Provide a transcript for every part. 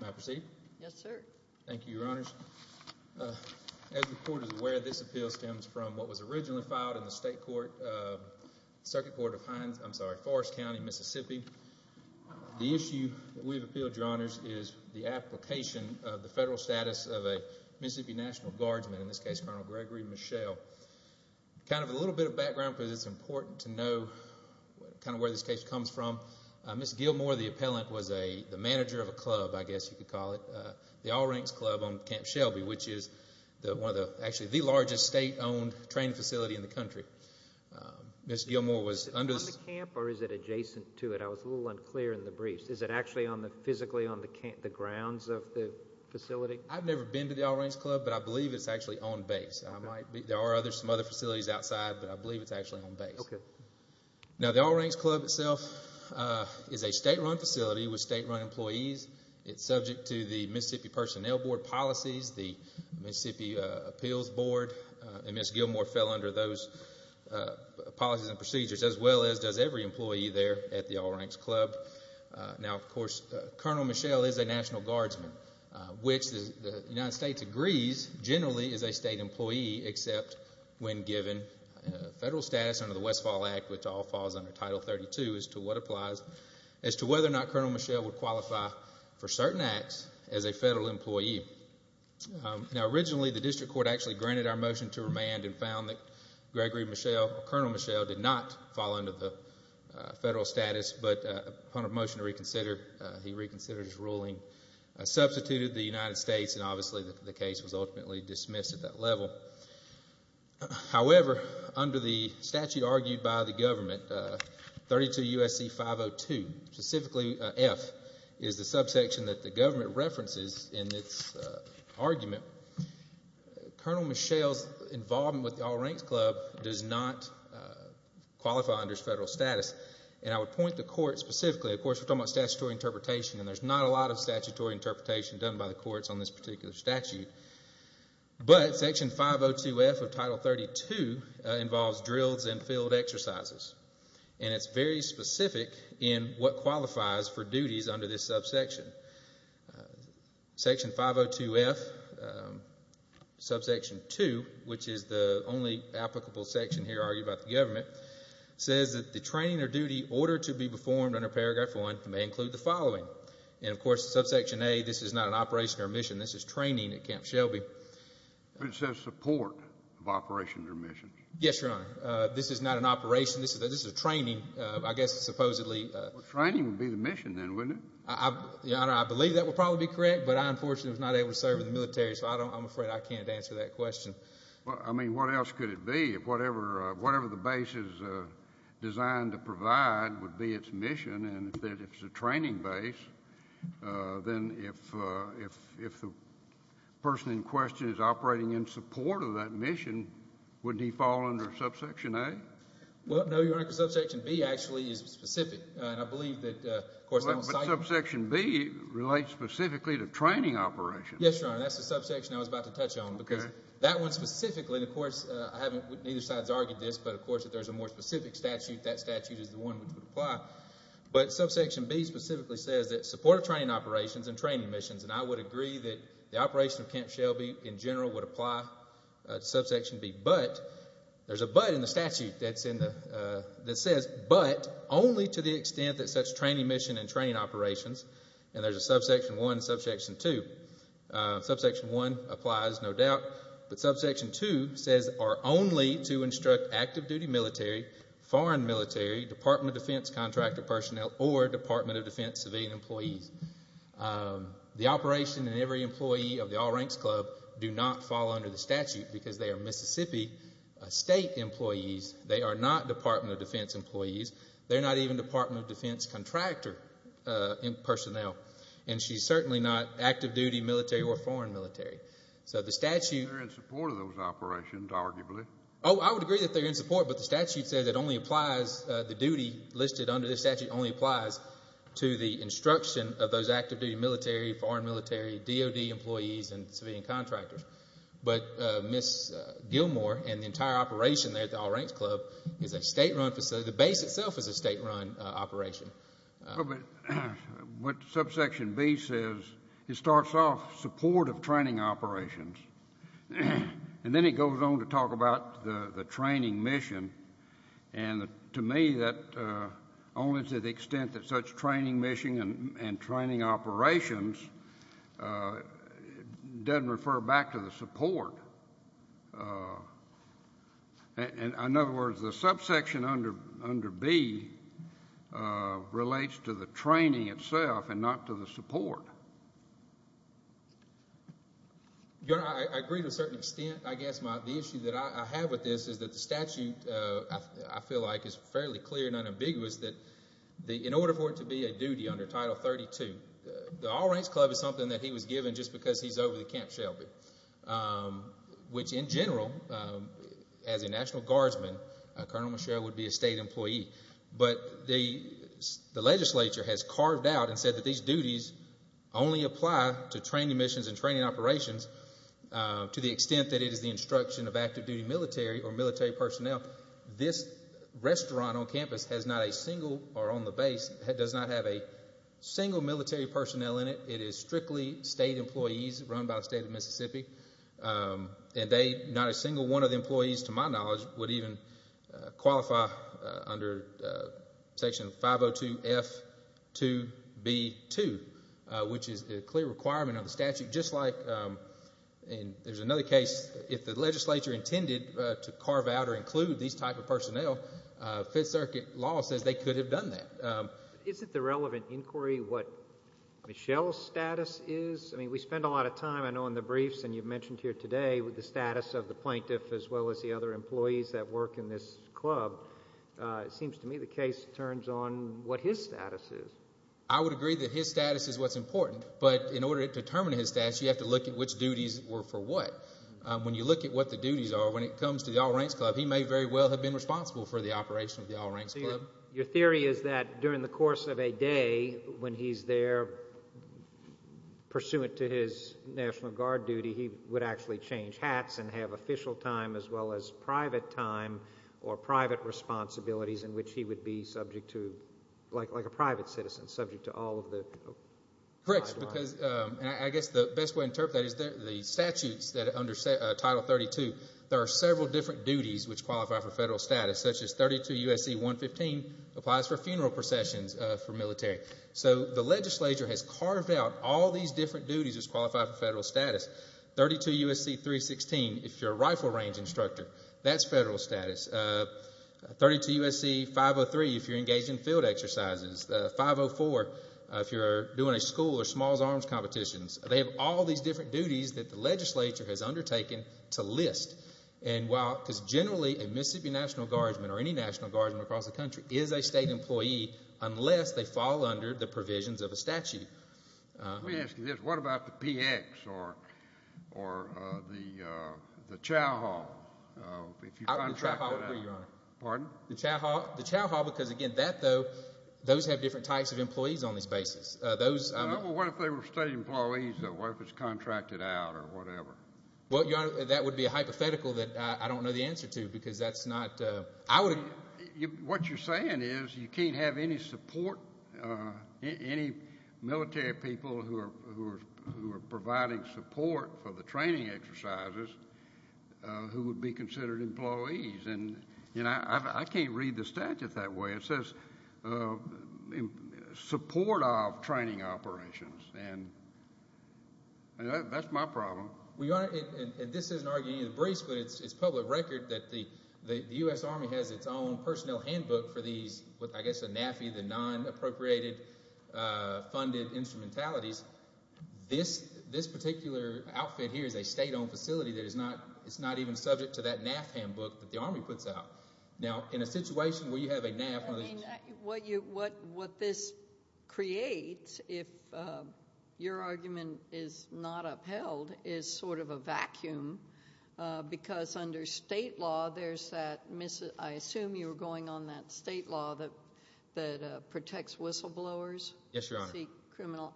May I proceed? Yes, sir. Thank you, Your Honors. As the Court is aware, this appeal stems from what was originally filed in the State Court, Circuit Court of Hines, I'm sorry, Forest County, Mississippi. The issue that we've appealed, Your Honors, is the application of the federal status of a Mississippi National Guardsman, in this case, Colonel Gregory Michel. Kind of a little bit of background, because it's important to know kind of where this case comes from. Mr. Gilmore, the appellant, was the manager of a club, I guess you could call it, the All Ranks Club on Camp Shelby, which is actually the largest state-owned training facility in the country. Is it on the camp or is it adjacent to it? I was a little unclear in the briefs. Is it actually physically on the grounds of the facility? I've never been to the All Ranks Club, but I believe it's actually on base. There are some other facilities outside, but I believe it's actually on base. Now, the All Ranks Club itself is a state-run facility with state-run employees. It's subject to the Mississippi Personnel Board policies, the Mississippi Appeals Board, and Mr. Gilmore fell under those policies and procedures, as well as does every employee there at the All Ranks Club. Now, of course, Colonel Michel is a National Guardsman, which the United States agrees generally is a state employee, except when given federal status under the Westfall Act, which all falls under Title 32, as to what applies as to whether or not Colonel Michel would qualify for certain acts as a federal employee. Now, originally, the district court actually granted our motion to remand and found that Gregory Michel or Colonel Michel did not fall under the federal status, but upon a motion to reconsider, he reconsidered his ruling, substituted the United States, and obviously the case was ultimately dismissed at that level. However, under the statute argued by the government, 32 U.S.C. 502, specifically F, is the subsection that the government references in its argument. Colonel Michel's involvement with the All Ranks Club does not qualify under federal status, and I would point the court specifically, of course, we're talking about statutory interpretation, and there's not a lot of statutory interpretation done by the courts on this particular statute, but Section 502F of Title 32 involves drills and field exercises, and it's very specific in what qualifies for duties under this subsection. Section 502F, subsection 2, which is the only applicable section here argued by the government, says that the training or duty ordered to be performed under Paragraph 1 may include the following. And, of course, in Subsection A, this is not an operation or mission. This is training at Camp Shelby. But it says support of operation or mission. Yes, Your Honor. This is not an operation. This is a training, I guess, supposedly. Well, training would be the mission then, wouldn't it? I believe that would probably be correct, but I, unfortunately, was not able to serve in the military, so I'm afraid I can't answer that question. Well, I mean, what else could it be? Whatever the base is designed to provide would be its mission, and if it's a training base, then if the person in question is operating in support of that mission, wouldn't he fall under Subsection A? Well, no, Your Honor, because Subsection B actually is specific, and I believe that, of course, they don't cite it. But Subsection B relates specifically to training operations. Yes, Your Honor, that's the subsection I was about to touch on because that one specifically, of course, neither side has argued this, but, of course, if there's a more specific statute, that statute is the one which would apply. But Subsection B specifically says that support of training operations and training missions, and I would agree that the operation of Camp Shelby in general would apply to Subsection B. But there's a but in the statute that says, but only to the extent that such training mission and training operations, and there's a Subsection 1 and Subsection 2. Subsection 1 applies, no doubt, but Subsection 2 says are only to instruct active-duty military, foreign military, Department of Defense contractor personnel, or Department of Defense civilian employees. The operation and every employee of the All Ranks Club do not fall under the statute because they are Mississippi State employees. They are not Department of Defense employees. They're not even Department of Defense contractor personnel, and she's certainly not active-duty military or foreign military. So the statute— They're in support of those operations, arguably. Oh, I would agree that they're in support, but the statute says it only applies, the duty listed under the statute only applies to the instruction of those active-duty military, foreign military, DOD employees, and civilian contractors. But Ms. Gilmore and the entire operation there at the All Ranks Club is a state-run facility. The base itself is a state-run operation. But what Subsection B says, it starts off support of training operations, and then it goes on to talk about the training mission, and to me that only to the extent that such training mission and training operations doesn't refer back to the support. In other words, the subsection under B relates to the training itself and not to the support. Your Honor, I agree to a certain extent. I guess the issue that I have with this is that the statute, I feel like, is fairly clear and unambiguous that in order for it to be a duty under Title 32, the All Ranks Club is something that he was given just because he's over at Camp Shelby. Which, in general, as a National Guardsman, Colonel Michelle would be a state employee. But the legislature has carved out and said that these duties only apply to training missions and training operations to the extent that it is the instruction of active-duty military or military personnel. This restaurant on campus has not a single, or on the base, does not have a single military personnel in it. It is strictly state employees run by the State of Mississippi. And they, not a single one of the employees, to my knowledge, would even qualify under Section 502F2B2, which is a clear requirement of the statute. Just like, and there's another case, if the legislature intended to carve out or include these type of personnel, Fifth Circuit law says they could have done that. Is it the relevant inquiry what Michelle's status is? I mean, we spend a lot of time, I know, in the briefs, and you've mentioned here today, with the status of the plaintiff as well as the other employees that work in this club. It seems to me the case turns on what his status is. I would agree that his status is what's important. But in order to determine his status, you have to look at which duties were for what. When you look at what the duties are, when it comes to the All Ranks Club, he may very well have been responsible for the operation of the All Ranks Club. Your theory is that during the course of a day when he's there, pursuant to his National Guard duty, he would actually change hats and have official time as well as private time or private responsibilities in which he would be subject to, like a private citizen, subject to all of the guidelines. Correct, because I guess the best way to interpret that is the statutes that under Title 32, there are several different duties which qualify for federal status, such as 32 U.S.C. 115 applies for funeral processions for military. So the legislature has carved out all these different duties which qualify for federal status. 32 U.S.C. 316, if you're a rifle range instructor, that's federal status. 32 U.S.C. 503, if you're engaged in field exercises. 504, if you're doing a school or smalls arms competitions. They have all these different duties that the legislature has undertaken to list, because generally a Mississippi National Guardsman or any National Guardsman across the country is a state employee unless they fall under the provisions of a statute. Let me ask you this. What about the PX or the chow hall? The chow hall would be, Your Honor. Pardon? The chow hall because, again, those have different types of employees on these bases. What if they were state employees? What if it's contracted out or whatever? Well, Your Honor, that would be a hypothetical that I don't know the answer to because that's not... What you're saying is you can't have any support, any military people who are providing support for the training exercises who would be considered employees. I can't read the statute that way. It says support of training operations, and that's my problem. Well, Your Honor, and this isn't arguing any of the briefs, but it's public record that the U.S. Army has its own personnel handbook for these, I guess the NAFI, the non-appropriated funded instrumentalities. This particular outfit here is a state-owned facility that is not even subject to that NAF handbook that the Army puts out. Now, in a situation where you have a NAF... What this creates, if your argument is not upheld, is sort of a vacuum because under state law there's that, I assume you were going on that state law that protects whistleblowers. Yes, Your Honor.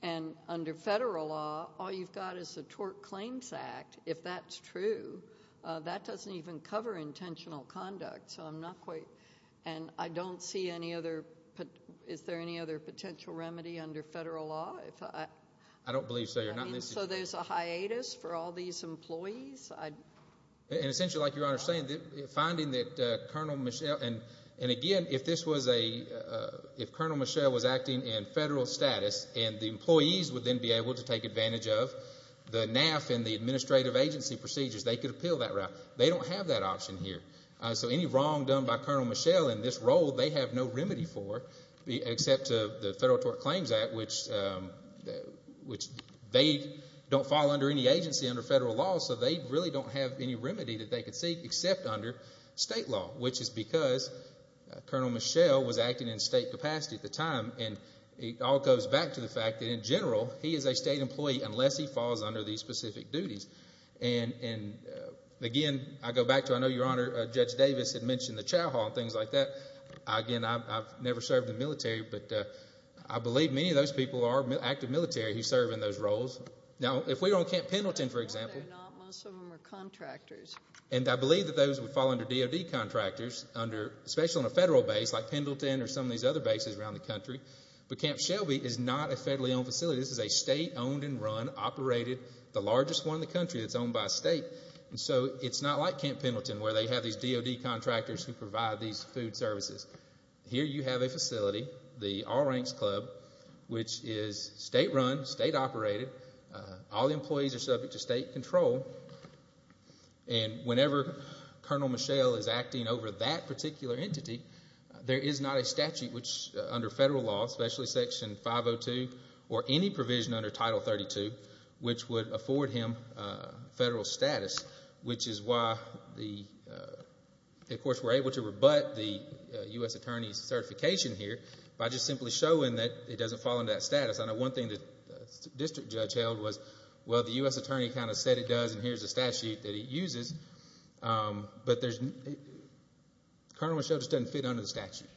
And under federal law, all you've got is the Tort Claims Act. If that's true, that doesn't even cover intentional conduct. So I'm not quite... And I don't see any other... Is there any other potential remedy under federal law? I don't believe so, Your Honor. So there's a hiatus for all these employees? Essentially, like Your Honor is saying, finding that Colonel Michel... And again, if this was a... If Colonel Michel was acting in federal status and the employees would then be able to take advantage of the NAF and the administrative agency procedures, they could appeal that route. They don't have that option here. So any wrong done by Colonel Michel in this role, they have no remedy for except the Federal Tort Claims Act, which they don't fall under any agency under federal law, so they really don't have any remedy that they could seek except under state law, which is because Colonel Michel was acting in state capacity at the time. And it all goes back to the fact that, in general, he is a state employee unless he falls under these specific duties. And again, I go back to... I know Your Honor, Judge Davis had mentioned the chow hall and things like that. Again, I've never served in the military, but I believe many of those people are active military who serve in those roles. Now, if we were on Camp Pendleton, for example... No, they're not. Most of them are contractors. And I believe that those would fall under DOD contractors, especially on a federal base like Pendleton or some of these other bases around the country. But Camp Shelby is not a federally owned facility. This is a state-owned and run, operated, the largest one in the country that's owned by a state. And so it's not like Camp Pendleton where they have these DOD contractors who provide these food services. Here you have a facility, the All Ranks Club, which is state-run, state-operated. All the employees are subject to state control. And whenever Colonel Mischel is acting over that particular entity, there is not a statute under federal law, especially Section 502, or any provision under Title 32, which would afford him federal status, which is why, of course, we're able to rebut the U.S. Attorney's certification here by just simply showing that it doesn't fall under that status. I know one thing the district judge held was, well, the U.S. Attorney kind of said it does, and here's the statute that it uses. But Colonel Mischel just doesn't fit under the statute,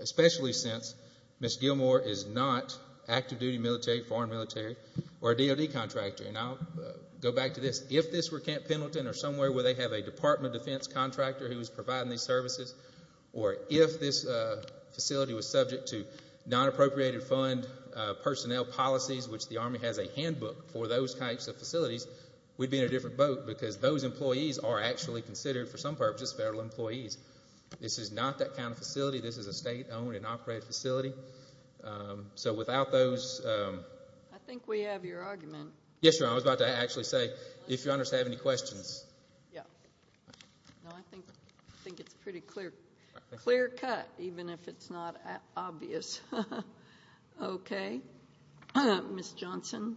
especially since Ms. Gilmore is not active-duty military, foreign military, or a DOD contractor. And I'll go back to this. If this were Camp Pendleton or somewhere where they have a Department of Defense contractor who is providing these services, or if this facility was subject to non-appropriated fund personnel policies, which the Army has a handbook for those types of facilities, we'd be in a different boat because those employees are actually considered, for some purposes, federal employees. This is not that kind of facility. This is a state-owned and operated facility. So without those— I think we have your argument. Yes, Your Honor, I was about to actually say, if Your Honors have any questions. No, I think it's a pretty clear cut, even if it's not obvious. Okay. Ms. Johnson.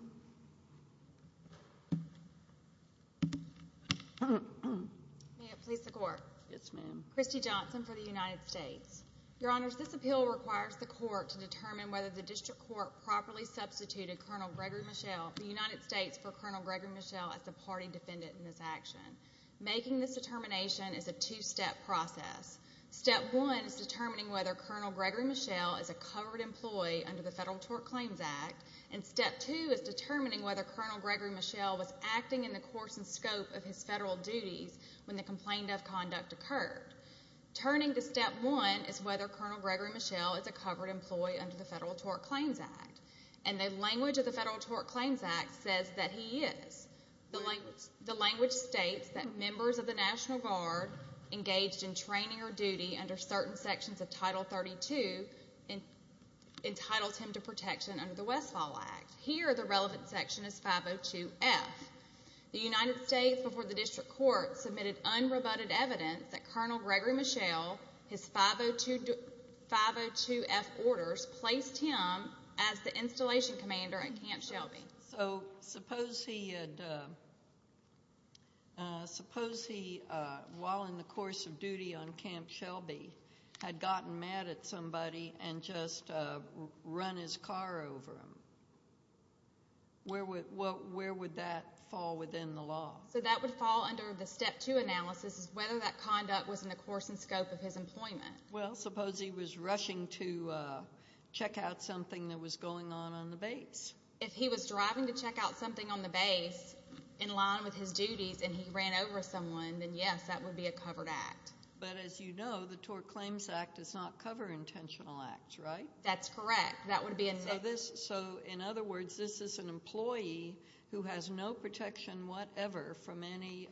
May it please the Court. Yes, ma'am. Christy Johnson for the United States. Your Honors, this appeal requires the Court to determine whether the District Court properly substituted Colonel Gregory Mischel, the United States, for Colonel Gregory Mischel as the party defendant in this action. Making this determination is a two-step process. Step one is determining whether Colonel Gregory Mischel is a covered employee under the Federal Tort Claims Act. And step two is determining whether Colonel Gregory Mischel was acting in the course and scope of his federal duties when the complaint of conduct occurred. Turning to step one is whether Colonel Gregory Mischel is a covered employee under the Federal Tort Claims Act. And the language of the Federal Tort Claims Act says that he is. The language states that members of the National Guard engaged in training or duty under certain sections of Title 32 entitled him to protection under the Westfall Act. Here, the relevant section is 502F. The United States before the District Court submitted unrebutted evidence that Colonel Gregory Mischel, his 502F orders placed him as the installation commander at Camp Shelby. So suppose he, while in the course of duty on Camp Shelby, had gotten mad at somebody and just run his car over him. Where would that fall within the law? So that would fall under the step two analysis is whether that conduct was in the course and scope of his employment. Well, suppose he was rushing to check out something that was going on on the base. If he was driving to check out something on the base in line with his duties and he ran over someone, then yes, that would be a covered act. But as you know, the Tort Claims Act does not cover intentional acts, right? That's correct. That would be a no. So in other words, this is an employee who has no protection whatever from any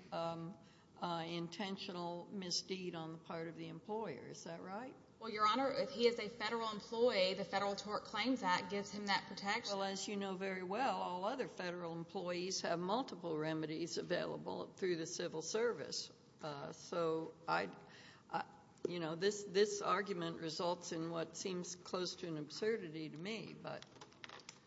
intentional misdeed on the part of the employer. Is that right? Well, Your Honor, if he is a federal employee, the Federal Tort Claims Act gives him that protection. Well, as you know very well, all other federal employees have multiple remedies available through the civil service. So, you know, this argument results in what seems close to an absurdity to me.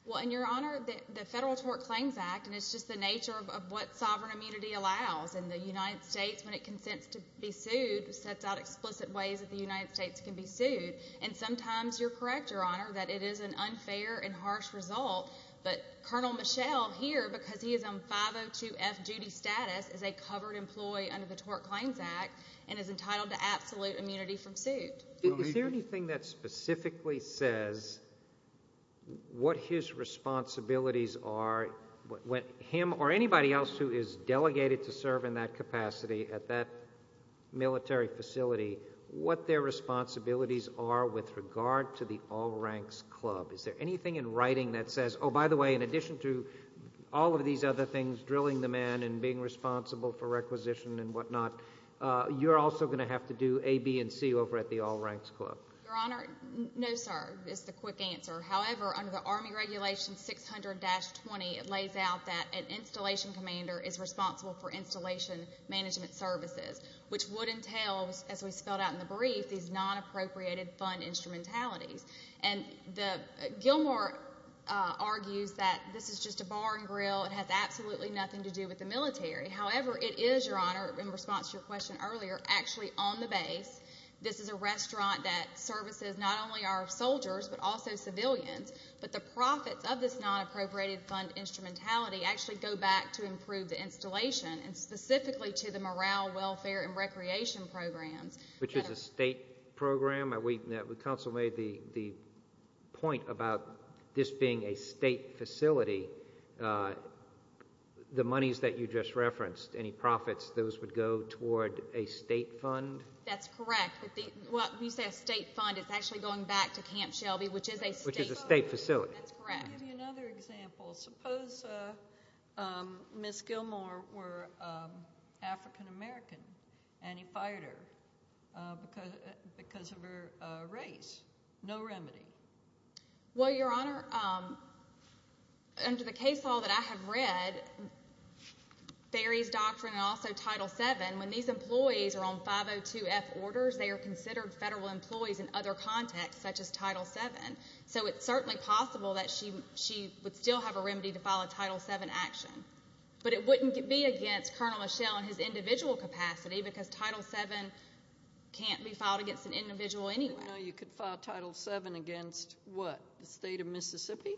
Well, Your Honor, the Federal Tort Claims Act, and it's just the nature of what sovereign immunity allows, and the United States, when it consents to be sued, sets out explicit ways that the United States can be sued. And sometimes you're correct, Your Honor, that it is an unfair and harsh result, but Colonel Michel here, because he is on 502F duty status, is a covered employee under the Tort Claims Act and is entitled to absolute immunity from suit. Is there anything that specifically says what his responsibilities are when him or anybody else who is delegated to serve in that capacity at that military facility, what their responsibilities are with regard to the All Ranks Club? Is there anything in writing that says, oh, by the way, in addition to all of these other things, drilling the man and being responsible for requisition and whatnot, you're also going to have to do A, B, and C over at the All Ranks Club? Your Honor, no, sir, is the quick answer. However, under the Army Regulation 600-20, it lays out that an installation commander is responsible for installation management services, which would entail, as we spelled out in the brief, these non-appropriated fund instrumentalities. And Gilmore argues that this is just a bar and grill. It has absolutely nothing to do with the military. However, it is, Your Honor, in response to your question earlier, actually on the base. This is a restaurant that services not only our soldiers but also civilians. But the profits of this non-appropriated fund instrumentality actually go back to improve the installation and specifically to the morale, welfare, and recreation programs. Which is a state program? Counsel made the point about this being a state facility. The monies that you just referenced, any profits, those would go toward a state fund? That's correct. When you say a state fund, it's actually going back to Camp Shelby, which is a state facility. Which is a state facility. That's correct. Let me give you another example. Suppose Ms. Gilmore were African American and he fired her because of her race. No remedy. Well, Your Honor, under the case law that I have read, Ferry's Doctrine and also Title VII, when these employees are on 502F orders, they are considered federal employees in other contexts, such as Title VII. So it's certainly possible that she would still have a remedy to file a Title VII action. But it wouldn't be against Colonel Lachelle in his individual capacity because Title VII can't be filed against an individual anyway. You could file Title VII against, what, the state of Mississippi?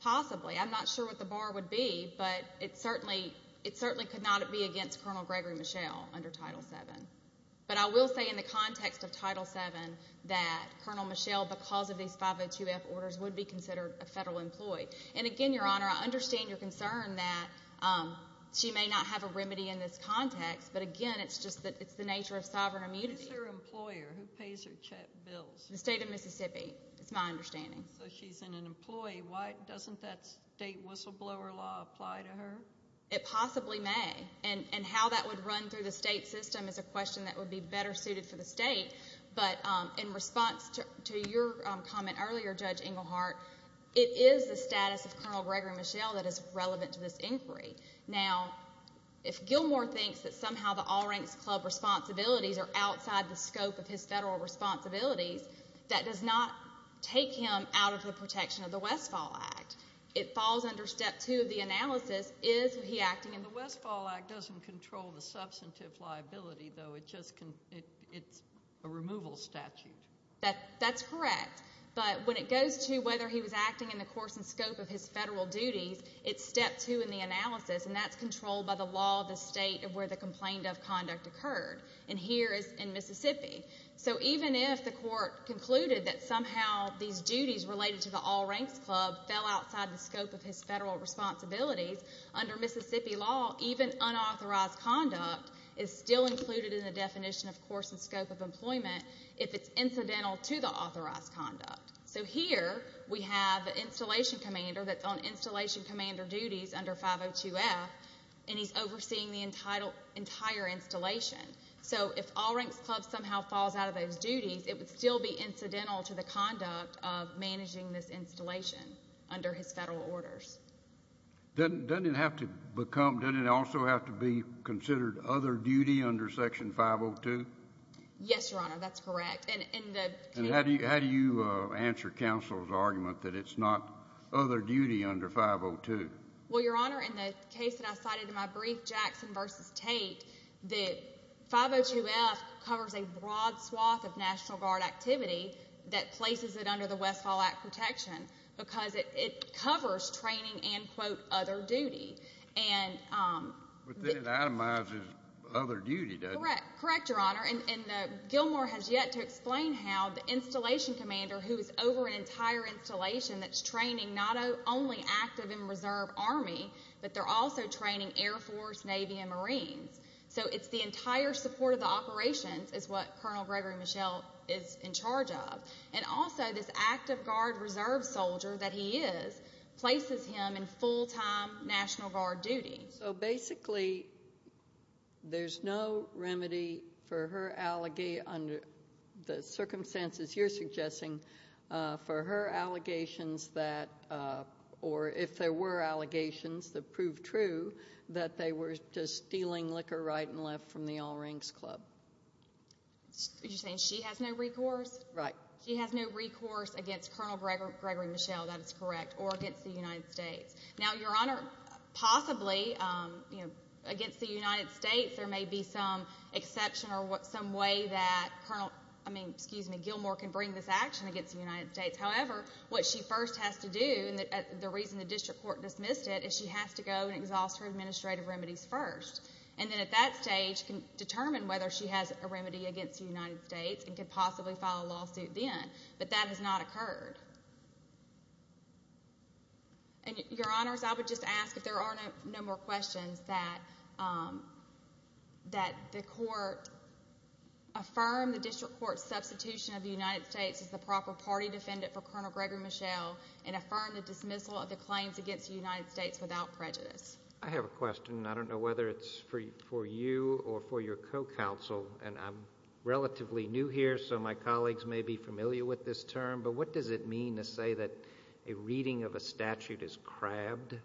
Possibly. I'm not sure what the bar would be, but it certainly could not be against Colonel Gregory Lachelle under Title VII. But I will say in the context of Title VII that Colonel Lachelle, because of these 502F orders, would be considered a federal employee. And, again, Your Honor, I understand your concern that she may not have a remedy in this context, but, again, it's just the nature of sovereign immunity. Who's her employer? The state of Mississippi, is my understanding. So she's an employee. Why doesn't that state whistleblower law apply to her? It possibly may. And how that would run through the state system is a question that would be better suited for the state. But in response to your comment earlier, Judge Engelhardt, it is the status of Colonel Gregory Lachelle that is relevant to this inquiry. Now, if Gilmore thinks that somehow the All Ranks Club responsibilities are outside the scope of his federal responsibilities, that does not take him out of the protection of the Westfall Act. It falls under Step 2 of the analysis. Is he acting in the Westfall Act? It doesn't control the substantive liability, though. It's a removal statute. That's correct. But when it goes to whether he was acting in the course and scope of his federal duties, it's Step 2 in the analysis, and that's controlled by the law of the state of where the complaint of conduct occurred. And here is in Mississippi. So even if the court concluded that somehow these duties related to the All Ranks Club fell outside the scope of his federal responsibilities, under Mississippi law, even unauthorized conduct is still included in the definition of course and scope of employment if it's incidental to the authorized conduct. So here we have an installation commander that's on installation commander duties under 502F, and he's overseeing the entire installation. So if All Ranks Club somehow falls out of those duties, it would still be incidental to the conduct of managing this installation under his federal orders. Doesn't it also have to be considered other duty under Section 502? Yes, Your Honor, that's correct. And how do you answer counsel's argument that it's not other duty under 502? Well, Your Honor, in the case that I cited in my brief, Jackson v. Tate, the 502F covers a broad swath of National Guard activity that places it under the Westfall Act protection because it covers training and, quote, other duty. But then it itemizes other duty, doesn't it? Correct, Your Honor. And Gilmore has yet to explain how the installation commander who is over an entire installation that's training not only active and reserve Army, but they're also training Air Force, Navy, and Marines. So it's the entire support of the operations is what Colonel Gregory Mischel is in charge of. And also this active guard reserve soldier that he is places him in full-time National Guard duty. So basically there's no remedy for her allegation under the circumstances you're suggesting for her allegations that, or if there were allegations that proved true, that they were just stealing liquor right and left from the All Rings Club. Are you saying she has no recourse? Right. She has no recourse against Colonel Gregory Mischel, that is correct, or against the United States. Now, Your Honor, possibly, you know, against the United States there may be some exception or some way that Gilmore can bring this action against the United States. However, what she first has to do, and the reason the district court dismissed it, is she has to go and exhaust her administrative remedies first. And then at that stage can determine whether she has a remedy against the United States and could possibly file a lawsuit then. But that has not occurred. And, Your Honors, I would just ask if there are no more questions, that the court affirm the district court's substitution of the United States as the proper party defendant for Colonel Gregory Mischel and affirm the dismissal of the claims against the United States without prejudice. I have a question, and I don't know whether it's for you or for your co-counsel, and I'm relatively new here so my colleagues may be familiar with this term, but what does it mean to say that a reading of a statute is crabbed?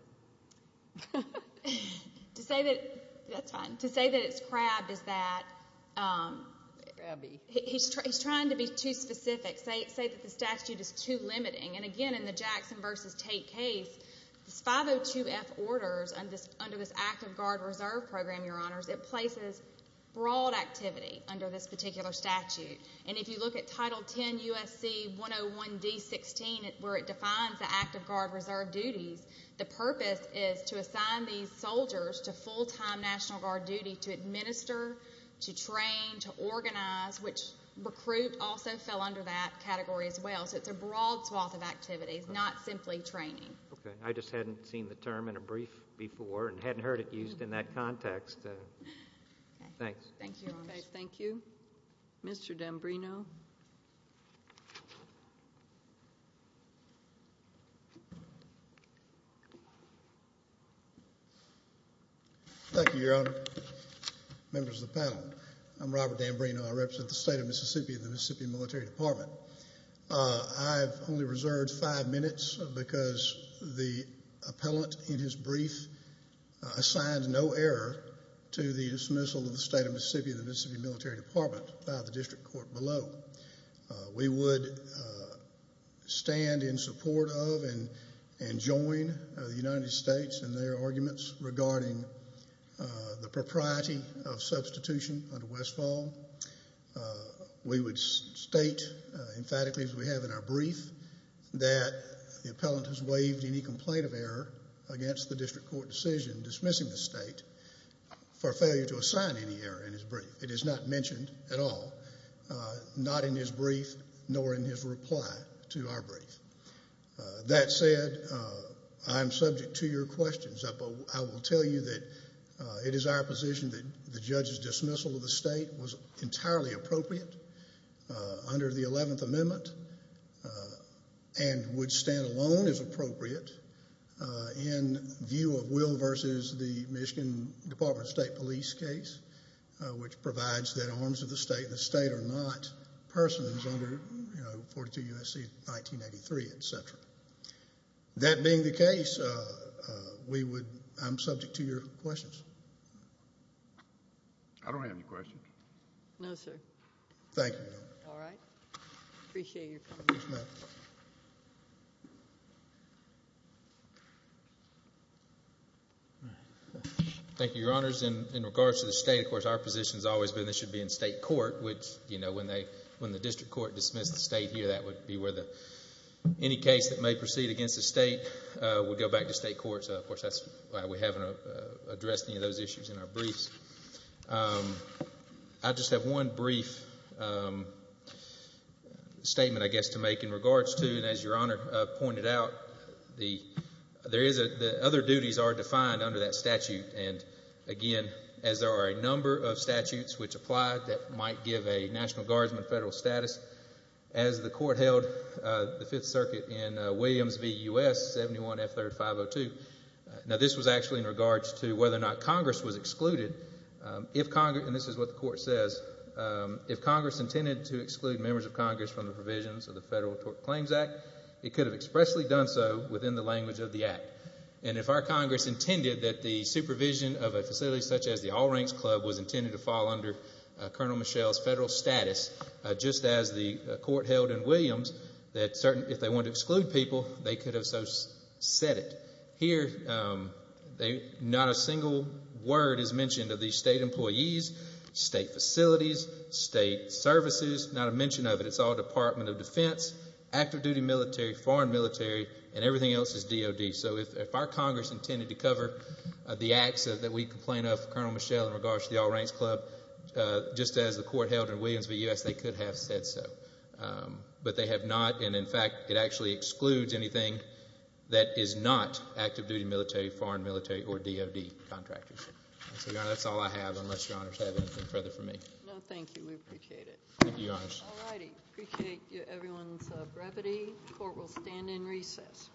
To say that it's crabbed is that he's trying to be too specific, say that the statute is too limiting. And, again, in the Jackson v. Tate case, this 502F orders under this active guard reserve program, Your Honors, it places broad activity under this particular statute. And if you look at Title 10 U.S.C. 101-D-16, where it defines the active guard reserve duties, the purpose is to assign these soldiers to full-time National Guard duty to administer, to train, to organize, which recruit also fell under that category as well. So it's a broad swath of activities, not simply training. Okay. I just hadn't seen the term in a brief before and hadn't heard it used in that context. Thanks. Thank you, Your Honors. Okay. Thank you. Mr. Dambrino. Thank you, Your Honor. Members of the panel, I'm Robert Dambrino. I represent the State of Mississippi in the Mississippi Military Department. I've only reserved five minutes because the appellant in his brief assigned no error to the dismissal of the State of Mississippi in the Mississippi Military Department by the district court below. We would stand in support of and join the United States in their arguments regarding the propriety of substitution under Westfall. We would state emphatically, as we have in our brief, that the appellant has waived any complaint of error against the district court decision dismissing the state. For failure to assign any error in his brief. It is not mentioned at all, not in his brief nor in his reply to our brief. That said, I'm subject to your questions. I will tell you that it is our position that the judge's dismissal of the state was entirely appropriate under the 11th Amendment and would stand alone as appropriate in view of Will versus the Michigan Department of State Police case, which provides that arms of the state and the state are not persons under 42 U.S.C. 1983, etc. That being the case, I'm subject to your questions. I don't have any questions. Thank you, Your Honor. All right. Appreciate your comments. Thank you, Your Honors. In regards to the state, of course, our position has always been this should be in state court, which when the district court dismissed the state here, that would be where any case that may proceed against the state would go back to state court. Of course, that's why we haven't addressed any of those issues in our briefs. I just have one brief statement, I guess, to make in regards to, and as Your Honor pointed out, the other duties are defined under that statute. And, again, as there are a number of statutes which apply that might give a National Guardsman federal status, as the court held the Fifth Circuit in Williams v. U.S. 71 F. 3rd 502. Now, this was actually in regards to whether or not Congress was excluded. If Congress, and this is what the court says, if Congress intended to exclude members of Congress from the provisions of the Federal Tort Claims Act, it could have expressly done so within the language of the act. And if our Congress intended that the supervision of a facility such as the All Ranks Club was intended to fall under Colonel Michel's federal status, just as the court held in Williams, if they wanted to exclude people, they could have so said it. Here, not a single word is mentioned of these state employees, state facilities, state services, not a mention of it. It's all Department of Defense, active duty military, foreign military, and everything else is DOD. So if our Congress intended to cover the acts that we complain of Colonel Michel in regards to the All Ranks Club, just as the court held in Williams v. U.S., they could have said so. But they have not, and in fact, it actually excludes anything that is not active duty military, foreign military, or DOD contractors. So, Your Honor, that's all I have, unless Your Honors have anything further for me. No, thank you. We appreciate it. Thank you, Your Honors. All righty. Appreciate everyone's brevity. Court will stand in recess.